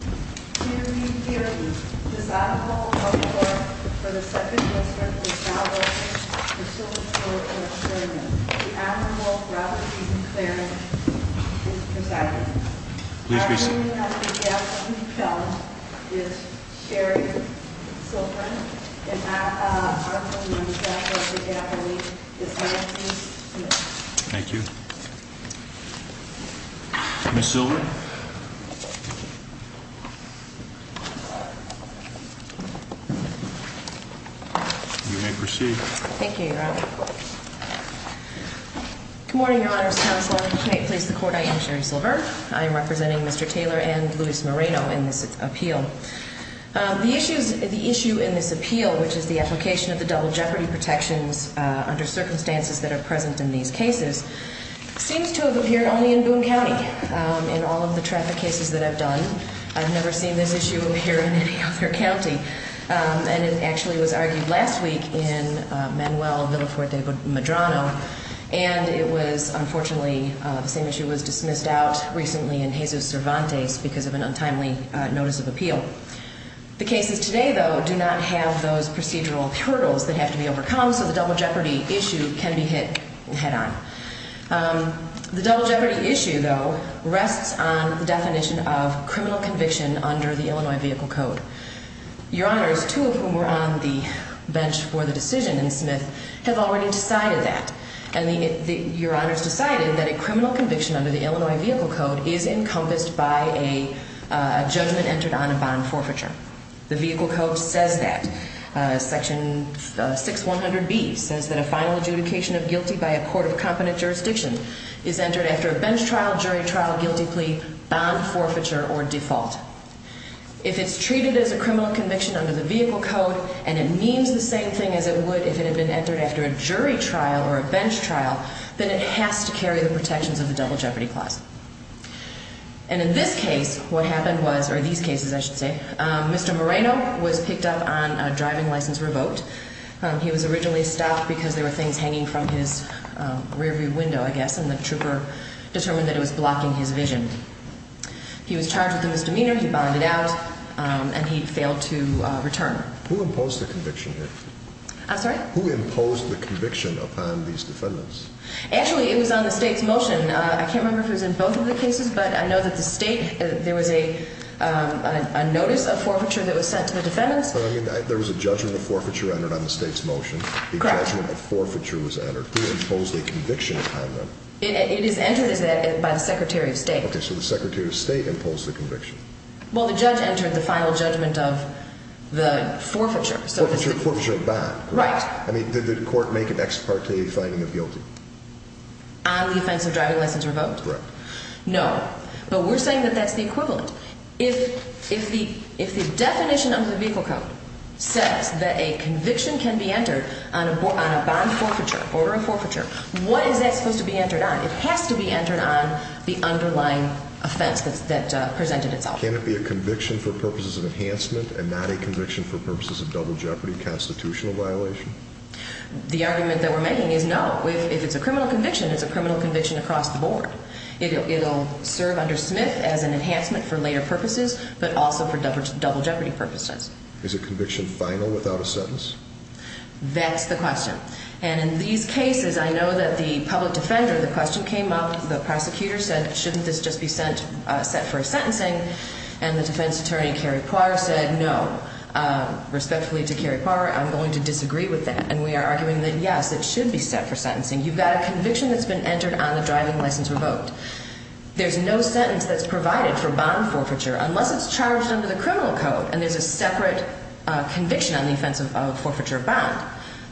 here. This is an honorable report for the second district of Southwestern for Silver's Court of Appearance. The Honorable Robert E. McLaren is presiding. Our name of the gathering held is Sherry Silver and our co-member of the gathering is Nancy Smith. Thank you. Ms. Silver? You may proceed. Thank you, Your Honor. Good morning, Your Honor's Counselor. May it please the Court, I am Sherry Silver. I am representing Mr. Taylor and Luis Moreno in this appeal. The issue in this appeal, which is the application of the double jeopardy protections under circumstances that are present in these cases, seems to have appeared only in Boone County. In all of the traffic cases that I've done, I've never seen this issue appear in any other county. And it actually was argued last week in Manuel Villafuerte Medrano. And it was, unfortunately, the same issue was dismissed out recently in Jesus Cervantes because of an untimely notice of appeal. The cases today, though, do not have those procedural hurdles that have to be overcome so the double jeopardy issue can be hit head-on. The double jeopardy issue, though, rests on the definition of criminal conviction under the Illinois Vehicle Code. Your Honors, two of whom were on the bench for the decision in Smith, have already decided that. And Your Honors decided that a criminal conviction under the Illinois Vehicle Code is encompassed by a judgment entered on a bond forfeiture. The Vehicle Code says that. Section 6100B says that a final adjudication of guilty by a court of competent jurisdiction is entered after a bench trial, jury trial, guilty plea, bond forfeiture, or default. If it's treated as a criminal conviction under the Vehicle Code and it means the same thing as it would if it had been entered after a jury trial or a bench trial, then it has to carry the protections of the double jeopardy clause. And in this case, what happened was, or these cases I should say, Mr. Moreno was picked up on a driving license revoked. He was originally stopped because there were things hanging from his rearview window, I guess, and the trooper determined that it was blocking his vision. He was charged with a misdemeanor, he bonded out, and he failed to return. Who imposed the conviction here? I'm sorry? Who imposed the conviction upon these defendants? Actually, it was on the State's motion. I can't remember if it was in both of the cases, but I know that the State, there was a notice of forfeiture that was sent to the defendants. There was a judgment of forfeiture entered on the State's motion. Correct. A judgment of forfeiture was entered. Who imposed a conviction upon them? It is entered by the Secretary of State. Okay, so the Secretary of State imposed the conviction. Well, the judge entered the final judgment of the forfeiture. Forfeiture and bond. Right. I mean, did the court make an ex parte finding of guilty? On the offense of driving license revoked? Correct. No. But we're saying that that's the equivalent. If the definition of the vehicle code says that a conviction can be entered on a bond forfeiture, order of forfeiture, what is that supposed to be entered on? It has to be entered on the underlying offense that presented itself. Can it be a conviction for purposes of enhancement and not a conviction for purposes of double jeopardy constitutional violation? The argument that we're making is no. If it's a criminal conviction, it's a criminal conviction across the board. It'll serve under Smith as an enhancement for later purposes, but also for double jeopardy purposes. Is a conviction final without a sentence? That's the question. And in these cases, I know that the public defender, the question came up, the prosecutor said, shouldn't this just be set for a sentencing? And the defense attorney, Kerry Parr, said no. Respectfully to Kerry Parr, I'm going to disagree with that. And we are arguing that, yes, it should be set for sentencing. You've got a conviction that's been entered on the driving license revoked. There's no sentence that's provided for bond forfeiture unless it's charged under the criminal code and there's a separate conviction on the offense of forfeiture of bond.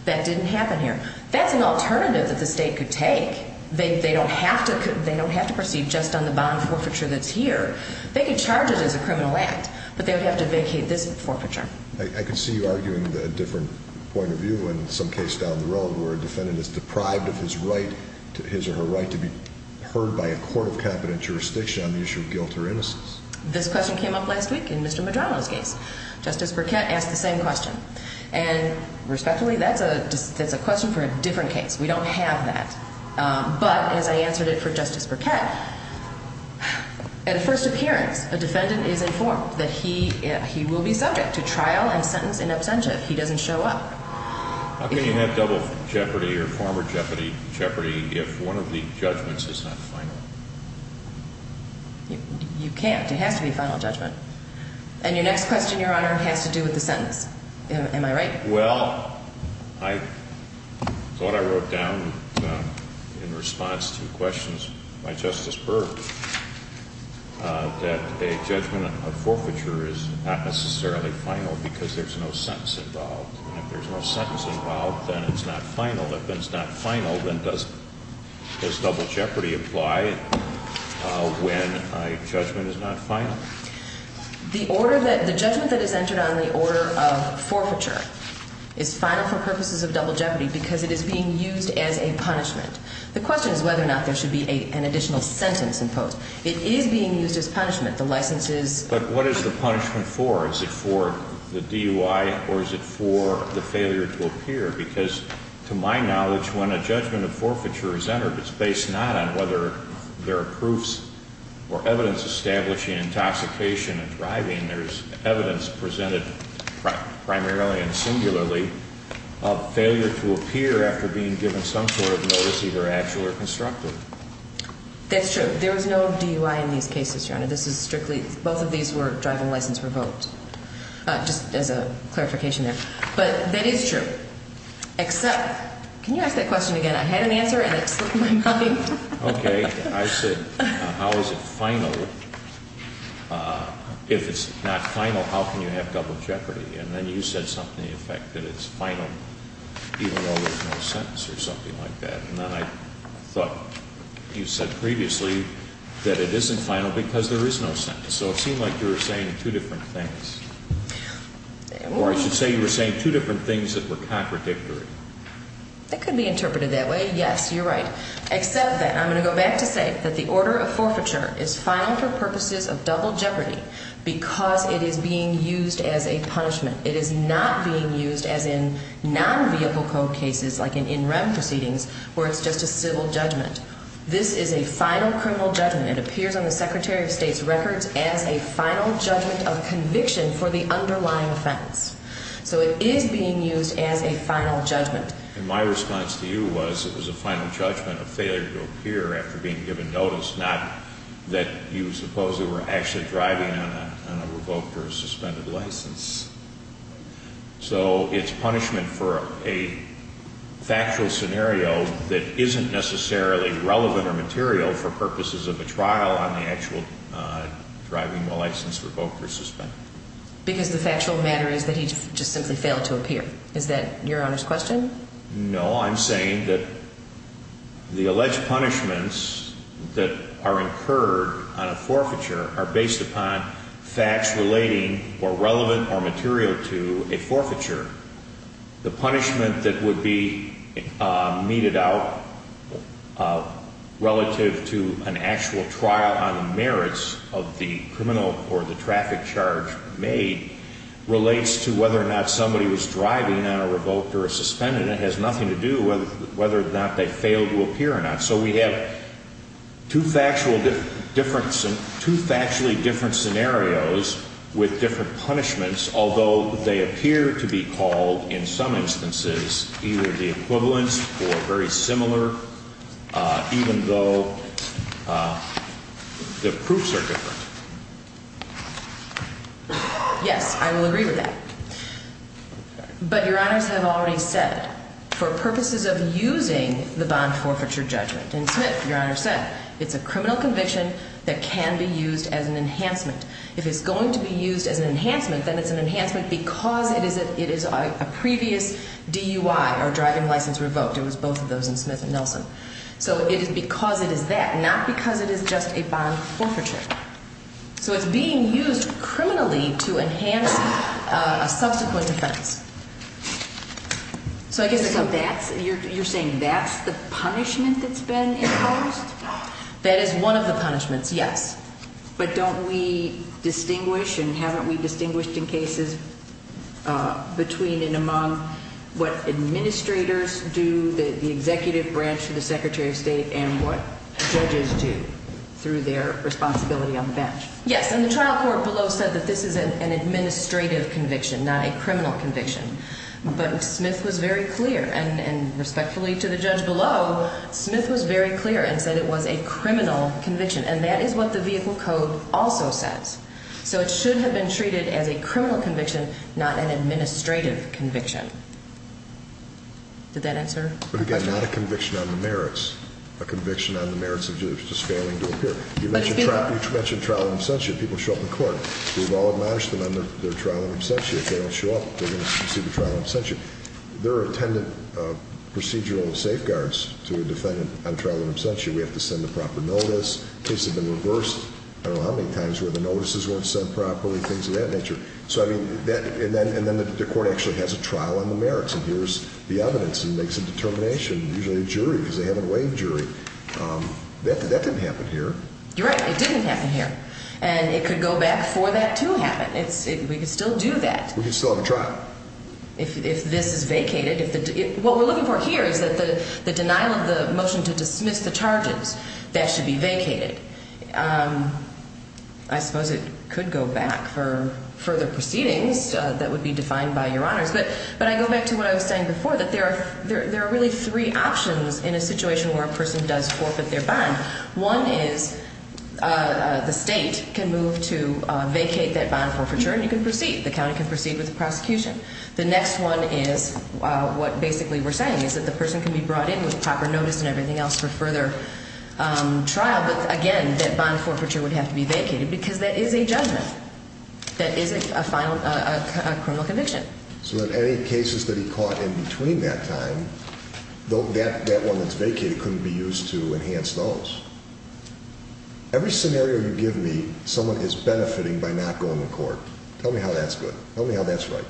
That didn't happen here. That's an alternative that the state could take. They don't have to proceed just on the bond forfeiture that's here. They could charge it as a criminal act, but they would have to vacate this forfeiture. I could see you arguing a different point of view in some case down the road where a defendant is deprived of his right, his or her right, to be heard by a court of competent jurisdiction on the issue of guilt or innocence. This question came up last week in Mr. Madrono's case. Justice Burkett asked the same question. And respectfully, that's a question for a different case. We don't have that. But as I answered it for Justice Burkett, at a first appearance, a defendant is informed that he will be subject to trial and sentence in absentia if he doesn't show up. How can you have double jeopardy or former jeopardy if one of the judgments is not final? You can't. It has to be a final judgment. And your next question, Your Honor, has to do with the sentence. Am I right? Well, I thought I wrote down in response to questions by Justice Burke that a judgment of forfeiture is not necessarily final because there's no sentence involved. And if there's no sentence involved, then it's not final. If it's not final, then does double jeopardy apply when a judgment is not final? The judgment that is entered on the order of forfeiture is final for purposes of double jeopardy because it is being used as a punishment. The question is whether or not there should be an additional sentence imposed. It is being used as punishment. The license is. But what is the punishment for? Is it for the DUI or is it for the failure to appear? Because to my knowledge, when a judgment of forfeiture is entered, it's based not on whether there are proofs or evidence establishing intoxication and driving. There's evidence presented primarily and singularly of failure to appear after being given some sort of notice, either actual or constructive. That's true. There was no DUI in these cases, Your Honor. This is strictly – both of these were driving license revoked, just as a clarification there. But that is true, except – can you ask that question again? I had an answer and it slipped my mind. Okay. I said how is it final? If it's not final, how can you have double jeopardy? And then you said something to the effect that it's final even though there's no sentence or something like that. And then I thought you said previously that it isn't final because there is no sentence. So it seemed like you were saying two different things. Or I should say you were saying two different things that were contradictory. That could be interpreted that way. Yes, you're right. Except that I'm going to go back to say that the order of forfeiture is final for purposes of double jeopardy because it is being used as a punishment. It is not being used as in non-vehicle code cases like in NREM proceedings where it's just a civil judgment. This is a final criminal judgment. It appears on the Secretary of State's records as a final judgment of conviction for the underlying offense. So it is being used as a final judgment. And my response to you was it was a final judgment of failure to appear after being given notice, not that you supposedly were actually driving on a revoked or suspended license. So it's punishment for a factual scenario that isn't necessarily relevant or material for purposes of a trial on the actual driving license revoked or suspended. Because the factual matter is that he just simply failed to appear. Is that Your Honor's question? No. I'm saying that the alleged punishments that are incurred on a forfeiture are based upon facts relating or relevant or material to a forfeiture. The punishment that would be meted out relative to an actual trial on the merits of the criminal or the traffic charge made relates to whether or not somebody was driving on a revoked or a suspended. And it has nothing to do with whether or not they failed to appear or not. So we have two factually different scenarios with different punishments, although they appear to be called, in some instances, either the equivalent or very similar, even though the proofs are different. Yes, I will agree with that. But Your Honors have already said, for purposes of using the bond forfeiture judgment, and Smith, Your Honor, said it's a criminal conviction that can be used as an enhancement. If it's going to be used as an enhancement, then it's an enhancement because it is a previous DUI or driving license revoked. It was both of those in Smith and Nelson. So it is because it is that, not because it is just a bond forfeiture. So it's being used criminally to enhance a subsequent offense. So I guess that's, you're saying that's the punishment that's been imposed? That is one of the punishments, yes. But don't we distinguish, and haven't we distinguished in cases between and among what administrators do, the executive branch of the Secretary of State, and what judges do through their responsibility on the bench? Yes, and the trial court below said that this is an administrative conviction, not a criminal conviction. But Smith was very clear, and respectfully to the judge below, Smith was very clear and said it was a criminal conviction. And that is what the vehicle code also says. So it should have been treated as a criminal conviction, not an administrative conviction. Did that answer? But again, not a conviction on the merits. A conviction on the merits of judges just failing to appear. You mentioned trial and absentia. People show up in court. We've all admonished them on their trial and absentia. If they don't show up, they're going to receive a trial and absentia. There are attendant procedural safeguards to a defendant on trial and absentia. We have to send the proper notice. Cases have been reversed, I don't know how many times, where the notices weren't sent properly, things of that nature. So, I mean, and then the court actually has a trial on the merits, and here's the evidence, and makes a determination, usually a jury, because they haven't waived jury. That didn't happen here. You're right. It didn't happen here. And it could go back for that to happen. We could still do that. We could still have a trial. If this is vacated, what we're looking for here is that the denial of the motion to dismiss the charges, that should be vacated. I suppose it could go back for further proceedings that would be defined by Your Honors. But I go back to what I was saying before, that there are really three options in a situation where a person does forfeit their bond. One is the state can move to vacate that bond forfeiture, and you can proceed. The county can proceed with the prosecution. The next one is what basically we're saying, is that the person can be brought in with proper notice and everything else for further trial. But, again, that bond forfeiture would have to be vacated because that is a judgment. That is a final criminal conviction. So in any cases that he caught in between that time, that one that's vacated couldn't be used to enhance those. Every scenario you give me, someone is benefiting by not going to court. Tell me how that's good. Tell me how that's right.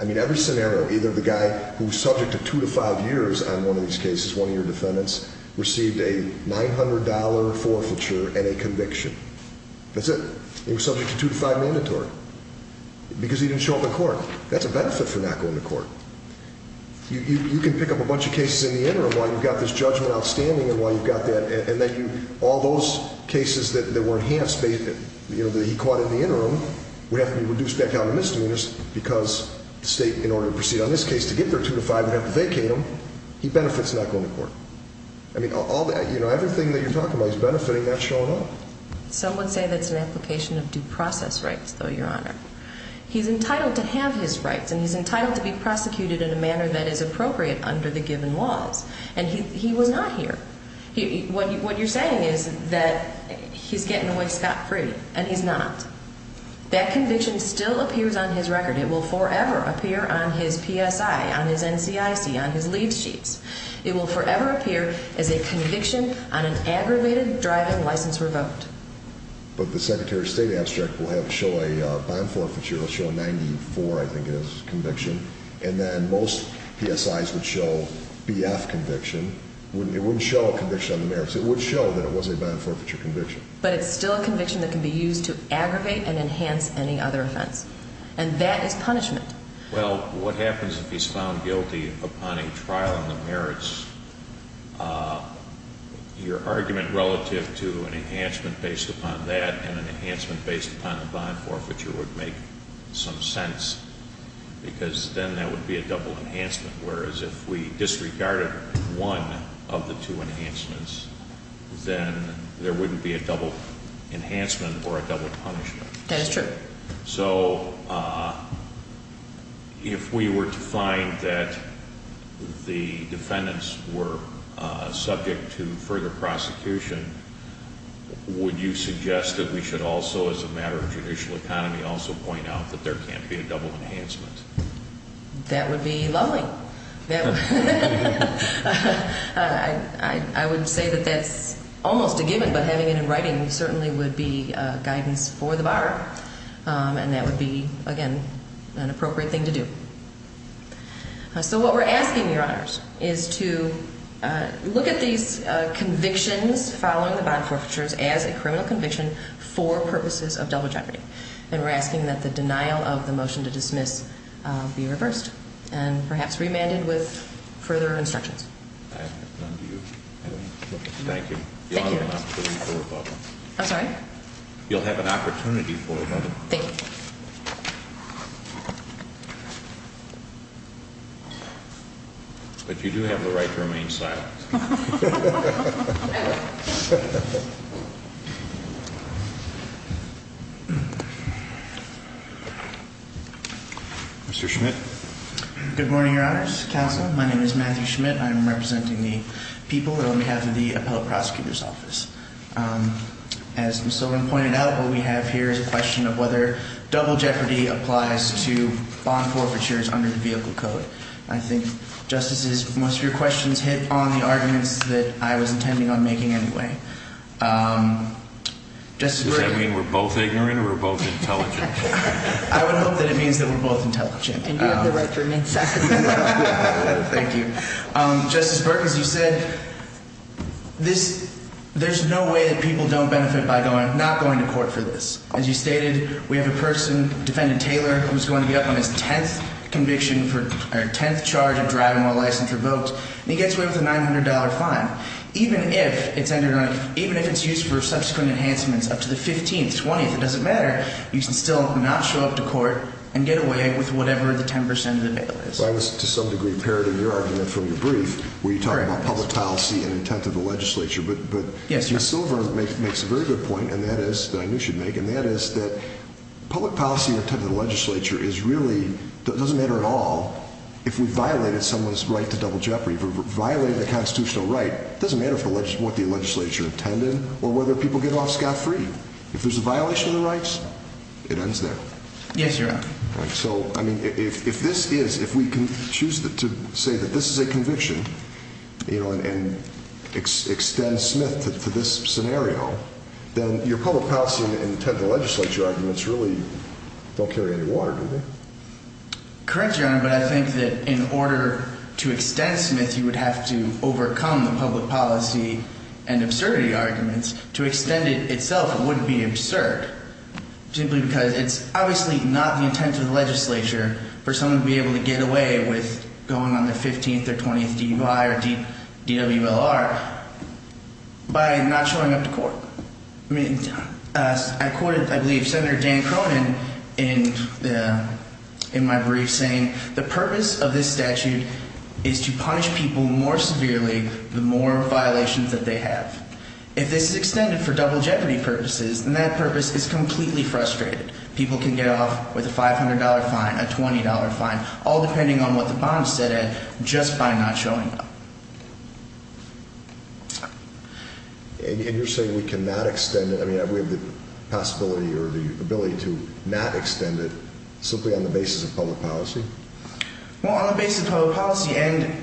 I mean, every scenario, either the guy who's subject to two to five years on one of these cases, one of your defendants, received a $900 forfeiture and a conviction. That's it. He was subject to two to five mandatory because he didn't show up in court. That's a benefit for not going to court. You can pick up a bunch of cases in the interim while you've got this judgment outstanding and while you've got that, and then all those cases that were enhanced, that he caught in the interim, would have to be reduced back down to misdemeanors because the state, in order to proceed on this case, to get their two to five would have to vacate them. He benefits not going to court. I mean, all that, everything that you're talking about, he's benefiting not showing up. Some would say that's an application of due process rights, though, Your Honor. He's entitled to have his rights, and he's entitled to be prosecuted in a manner that is appropriate under the given laws. And he was not here. What you're saying is that he's getting away scot-free, and he's not. That conviction still appears on his record. It will forever appear on his PSI, on his NCIC, on his lead sheets. It will forever appear as a conviction on an aggravated driving license revoked. But the Secretary of State abstract will have to show a bond forfeiture. It will show a 94, I think it is, conviction. And then most PSIs would show BF conviction. It wouldn't show a conviction on the merits. It would show that it was a bond forfeiture conviction. But it's still a conviction that can be used to aggravate and enhance any other offense. And that is punishment. Well, what happens if he's found guilty upon a trial on the merits? Your argument relative to an enhancement based upon that and an enhancement based upon a bond forfeiture would make some sense. Because then that would be a double enhancement. Whereas if we disregarded one of the two enhancements, then there wouldn't be a double enhancement or a double punishment. That is true. Okay. So if we were to find that the defendants were subject to further prosecution, would you suggest that we should also, as a matter of judicial economy, also point out that there can't be a double enhancement? That would be lovely. I would say that that's almost a given. But having it in writing certainly would be guidance for the bar. And that would be, again, an appropriate thing to do. So what we're asking, Your Honors, is to look at these convictions following the bond forfeitures as a criminal conviction for purposes of double jeopardy. And we're asking that the denial of the motion to dismiss be reversed. And perhaps remanded with further instructions. I have none to you. Thank you. Thank you. You'll have an opportunity for a vote. I'm sorry? You'll have an opportunity for a vote. Thank you. But you do have the right to remain silent. Mr. Schmidt? Good morning, Your Honors. Counsel, my name is Matthew Schmidt. I'm representing the people on behalf of the Appellate Prosecutor's Office. As Ms. Sullivan pointed out, what we have here is a question of whether double jeopardy applies to bond forfeitures under the Vehicle Code. I think, Justices, most of your questions hit on the offer of double jeopardy. I think that's one of the arguments that I was intending on making anyway. Does that mean we're both ignorant or we're both intelligent? I would hope that it means that we're both intelligent. And you have the right to remain silent. Thank you. Justice Burke, as you said, there's no way that people don't benefit by not going to court for this. As you stated, we have a person, Defendant Taylor, who's going to be up on his 10th conviction or 10th charge of driving while licensed or voked. And he gets away with a $900 fine. Even if it's used for subsequent enhancements up to the 15th, 20th, it doesn't matter. You can still not show up to court and get away with whatever the 10% of the bail is. Well, I was, to some degree, parroting your argument from your brief where you talk about public policy and intent of the legislature. But Ms. Sullivan makes a very good point, and that is, that I knew she'd make. And that is that public policy and intent of the legislature is really, doesn't matter at all. If we violated someone's right to double jeopardy, if we violated the constitutional right, it doesn't matter what the legislature intended or whether people get off scot-free. If there's a violation of the rights, it ends there. Yes, Your Honor. So, I mean, if this is, if we can choose to say that this is a conviction, you know, and extend Smith to this scenario, then your public policy and intent of the legislature arguments really don't carry any water, do they? Correct, Your Honor. But I think that in order to extend Smith, you would have to overcome the public policy and absurdity arguments. To extend it itself wouldn't be absurd, simply because it's obviously not the intent of the legislature for someone to be able to get away with going on their 15th or 20th DUI or DWLR by not showing up to court. I mean, I quoted, I believe, Senator Dan Cronin in my brief saying, the purpose of this statute is to punish people more severely the more violations that they have. If this is extended for double jeopardy purposes, then that purpose is completely frustrated. People can get off with a $500 fine, a $20 fine, all depending on what the bond is set at, just by not showing up. And you're saying we cannot extend it, I mean, we have the possibility or the ability to not extend it simply on the basis of public policy? Well, on the basis of public policy, and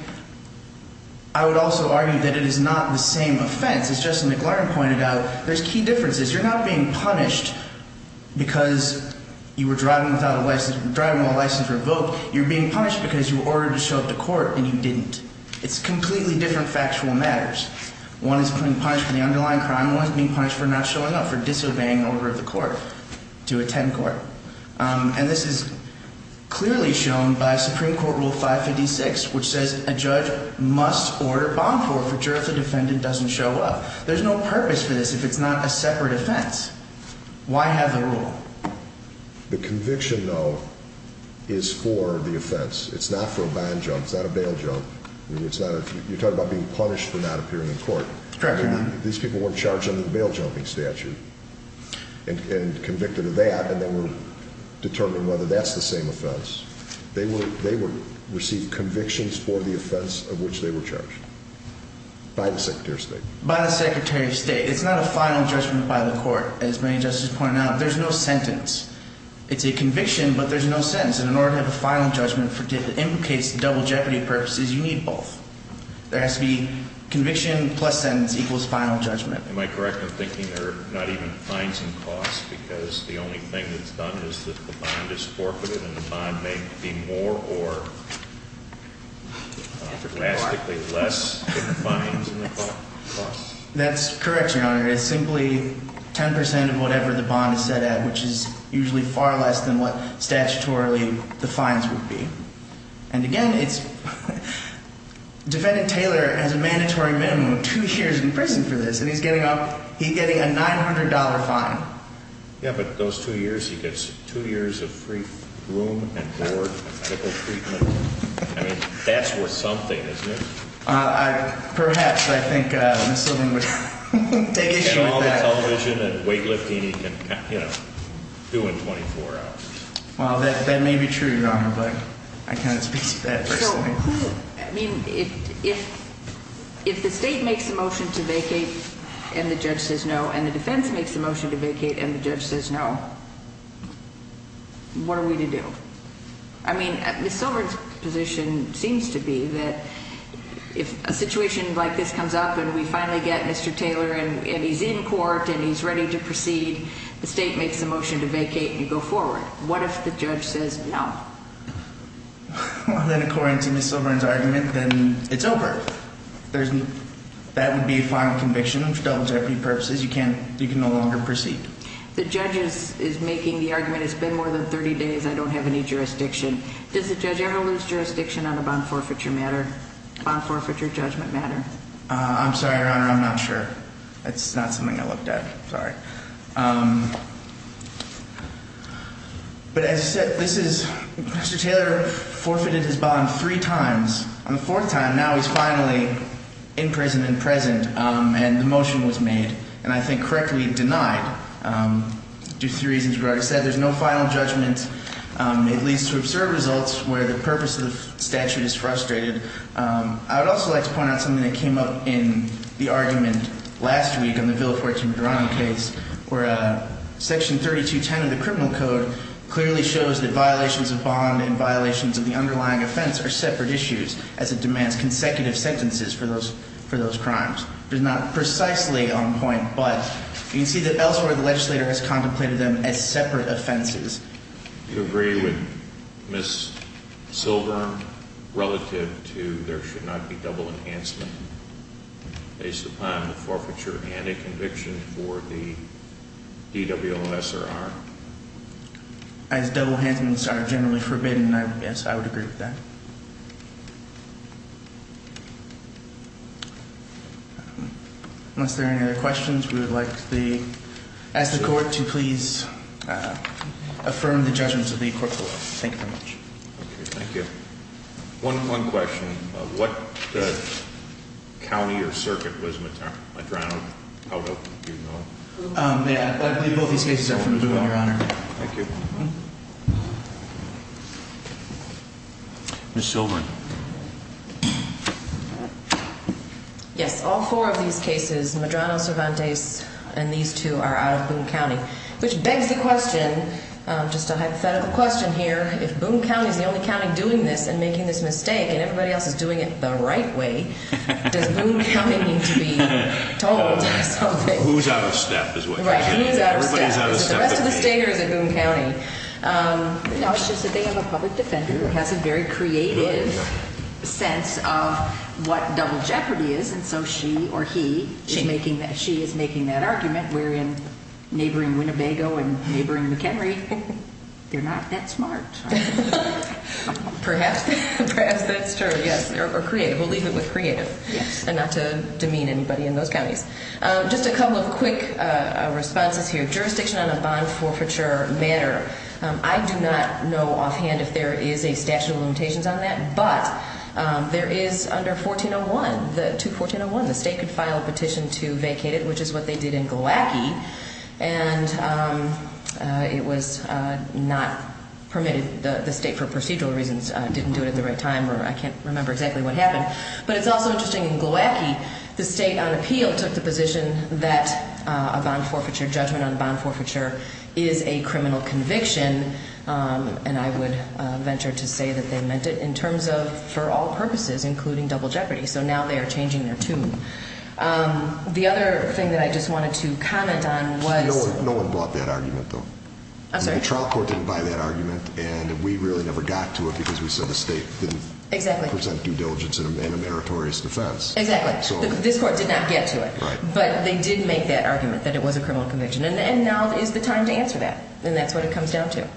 I would also argue that it is not the same offense. As Justin McLaren pointed out, there's key differences. You're not being punished because you were driving without a license, driving without a license or a vote. You're being punished because you were ordered to show up to court and you didn't. It's completely different factual matters. One is being punished for the underlying crime, one is being punished for not showing up, for disobeying an order of the court to attend court. And this is clearly shown by Supreme Court Rule 556, which says a judge must order bond forfeiture if the defendant doesn't show up. There's no purpose for this if it's not a separate offense. Why have the rule? The conviction, though, is for the offense. It's not for a bond jump. It's not a bail jump. You're talking about being punished for not appearing in court. Correct, Your Honor. These people weren't charged under the bail jumping statute and convicted of that, and they were determined whether that's the same offense. They received convictions for the offense of which they were charged by the Secretary of State. By the Secretary of State. It's not a final judgment by the court, as many justices pointed out. There's no sentence. It's a conviction, but there's no sentence. And in order to have a final judgment that implicates the double jeopardy purposes, you need both. There has to be conviction plus sentence equals final judgment. Am I correct in thinking there are not even fines and costs because the only thing that's done is that the bond is forfeited and the bond may be more or drastically less than the fines and the costs? That's correct, Your Honor. It's simply 10 percent of whatever the bond is set at, which is usually far less than what statutorily the fines would be. And, again, it's defendant Taylor has a mandatory minimum of two years in prison for this, and he's getting a $900 fine. Yeah, but those two years, he gets two years of free room and board and medical treatment. I mean, that's worth something, isn't it? Perhaps, I think Ms. Silver would take issue with that. And all the television and weightlifting, he can, you know, do in 24 hours. Well, that may be true, Your Honor, but I can't speak to that personally. I mean, if the state makes a motion to vacate and the judge says no, and the defense makes a motion to vacate and the judge says no, what are we to do? I mean, Ms. Silver's position seems to be that if a situation like this comes up and we finally get Mr. Taylor and he's in court and he's ready to proceed, the state makes a motion to vacate and you go forward. What if the judge says no? Well, then, according to Ms. Silver's argument, then it's over. That would be a final conviction for double jeopardy purposes. You can no longer proceed. The judge is making the argument it's been more than 30 days, I don't have any jurisdiction. Does the judge ever lose jurisdiction on a bond forfeiture matter, bond forfeiture judgment matter? I'm sorry, Your Honor, I'm not sure. That's not something I looked at. Sorry. But as I said, Mr. Taylor forfeited his bond three times. On the fourth time, now he's finally in prison and present, and the motion was made, and I think correctly denied due to the reasons we already said. There's no final judgment. It leads to absurd results where the purpose of the statute is frustrated. I would also like to point out something that came up in the argument last week on the Villafuerte and Medrano case, where section 3210 of the criminal code clearly shows that violations of bond and violations of the underlying offense are separate issues, as it demands consecutive sentences for those crimes. It's not precisely on point, but you can see that elsewhere the legislator has contemplated them as separate offenses. Do you agree with Ms. Silver relative to there should not be double enhancement based upon the forfeiture and a conviction for the DWOS or R? As double enhancements are generally forbidden, yes, I would agree with that. Unless there are any other questions, we would like to ask the court to please affirm the judgments of the court below. Thank you very much. Okay, thank you. One question. What county or circuit was Medrano out of? Do you know? I believe both these cases are from Boone, Your Honor. Thank you. Ms. Silver. Yes, all four of these cases, Medrano, Cervantes, and these two are out of Boone County. Which begs the question, just a hypothetical question here, if Boone County is the only county doing this and making this mistake, and everybody else is doing it the right way, does Boone County need to be told something? Who's out of step is what you're saying. Right, who's out of step. Everybody's out of step. Is it the rest of the state or is it Boone County? No, it's just that they have a public defender who has a very creative sense of what double jeopardy is, and so she or he is making that argument, wherein neighboring Winnebago and neighboring McHenry, they're not that smart. Perhaps that's true, yes, or creative. We'll leave it with creative and not to demean anybody in those counties. Just a couple of quick responses here. Jurisdiction on a bond forfeiture matter. I do not know offhand if there is a statute of limitations on that, but there is under 1401, 21401, the state could file a petition to vacate it, which is what they did in Gilwackie, and it was not permitted. The state, for procedural reasons, didn't do it at the right time, or I can't remember exactly what happened. But it's also interesting, in Gilwackie, the state, on appeal, took the position that a bond forfeiture judgment on bond forfeiture is a criminal conviction, and I would venture to say that they meant it in terms of for all purposes, including double jeopardy. So now they are changing their tune. The other thing that I just wanted to comment on was... No one brought that argument, though. I'm sorry? The trial court didn't buy that argument, and we really never got to it because we said the state didn't... Exactly. ...represent due diligence in a meritorious defense. Exactly. This court did not get to it. Right. But they did make that argument, that it was a criminal conviction, and now is the time to answer that, and that's what it comes down to.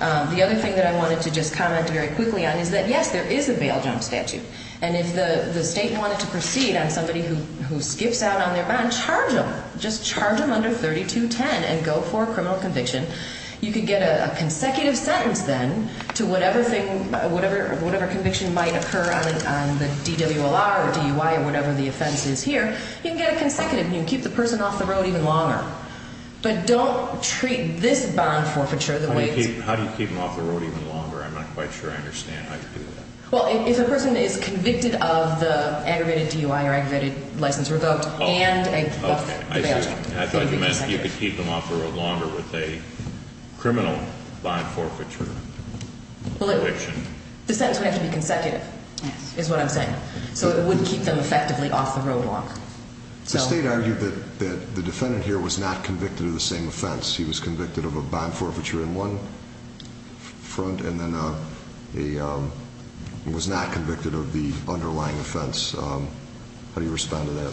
The other thing that I wanted to just comment very quickly on is that, yes, there is a bail jump statute, and if the state wanted to proceed on somebody who skips out on their bond, charge them. Just charge them under 3210 and go for a criminal conviction. You could get a consecutive sentence then to whatever conviction might occur on the DWLR or DUI or whatever the offense is here. You can get a consecutive, and you can keep the person off the road even longer. But don't treat this bond forfeiture the way it's... How do you keep them off the road even longer? I'm not quite sure I understand how you do that. Well, if a person is convicted of the aggravated DUI or aggravated license revoked and a bail jump. I thought you meant you could keep them off the road longer with a criminal bond forfeiture conviction. The sentence would have to be consecutive is what I'm saying. So it would keep them effectively off the road longer. The state argued that the defendant here was not convicted of the same offense. He was convicted of a bond forfeiture in one front and then was not convicted of the underlying offense. How do you respond to that?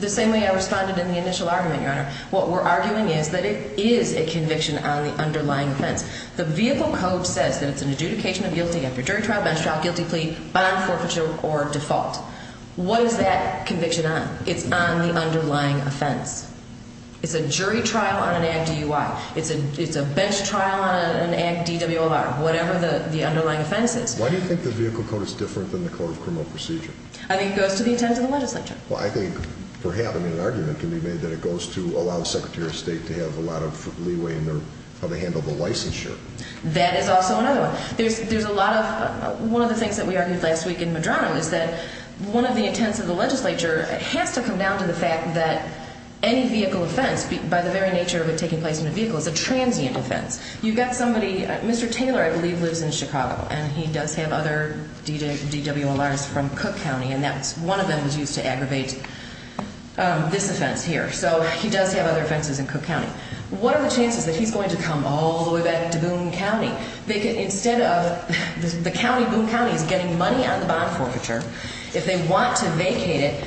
The same way I responded in the initial argument, Your Honor. What we're arguing is that it is a conviction on the underlying offense. The vehicle code says that it's an adjudication of guilty after jury trial, bench trial, guilty plea, bond forfeiture, or default. What is that conviction on? It's on the underlying offense. It's a jury trial on an ag DUI. It's a bench trial on an ag DWLR, whatever the underlying offense is. Why do you think the vehicle code is different than the code of criminal procedure? I think it goes to the intent of the legislature. I think perhaps an argument can be made that it goes to allow the Secretary of State to have a lot of leeway in how they handle the licensure. That is also another one. One of the things that we argued last week in Medrano is that one of the intents of the legislature has to come down to the fact that any vehicle offense, by the very nature of it taking place in a vehicle, is a transient offense. Mr. Taylor, I believe, lives in Chicago, and he does have other DWLRs from Cook County, and one of them was used to aggravate this offense here. So he does have other offenses in Cook County. What are the chances that he's going to come all the way back to Boone County? Instead of the county, Boone County, is getting money on the bond forfeiture, if they want to vacate it,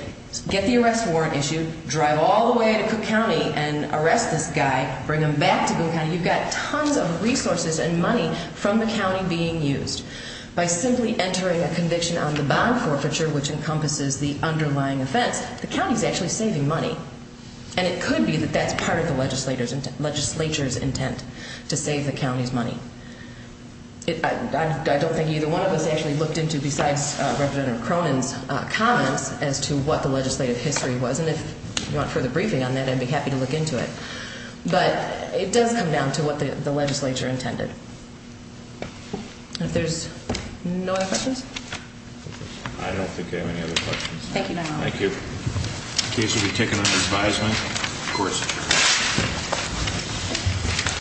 get the arrest warrant issued, drive all the way to Cook County and arrest this guy, bring him back to Boone County, you've got tons of resources and money from the county being used. By simply entering a conviction on the bond forfeiture, which encompasses the underlying offense, the county is actually saving money, and it could be that that's part of the legislature's intent to save the county's money. I don't think either one of us actually looked into, besides Representative Cronin's comments, as to what the legislative history was, and if you want further briefing on that, I'd be happy to look into it. But it does come down to what the legislature intended. If there's no other questions? I don't think I have any other questions. Thank you, Your Honor. Thank you. The case will be taken under advisement. Of course.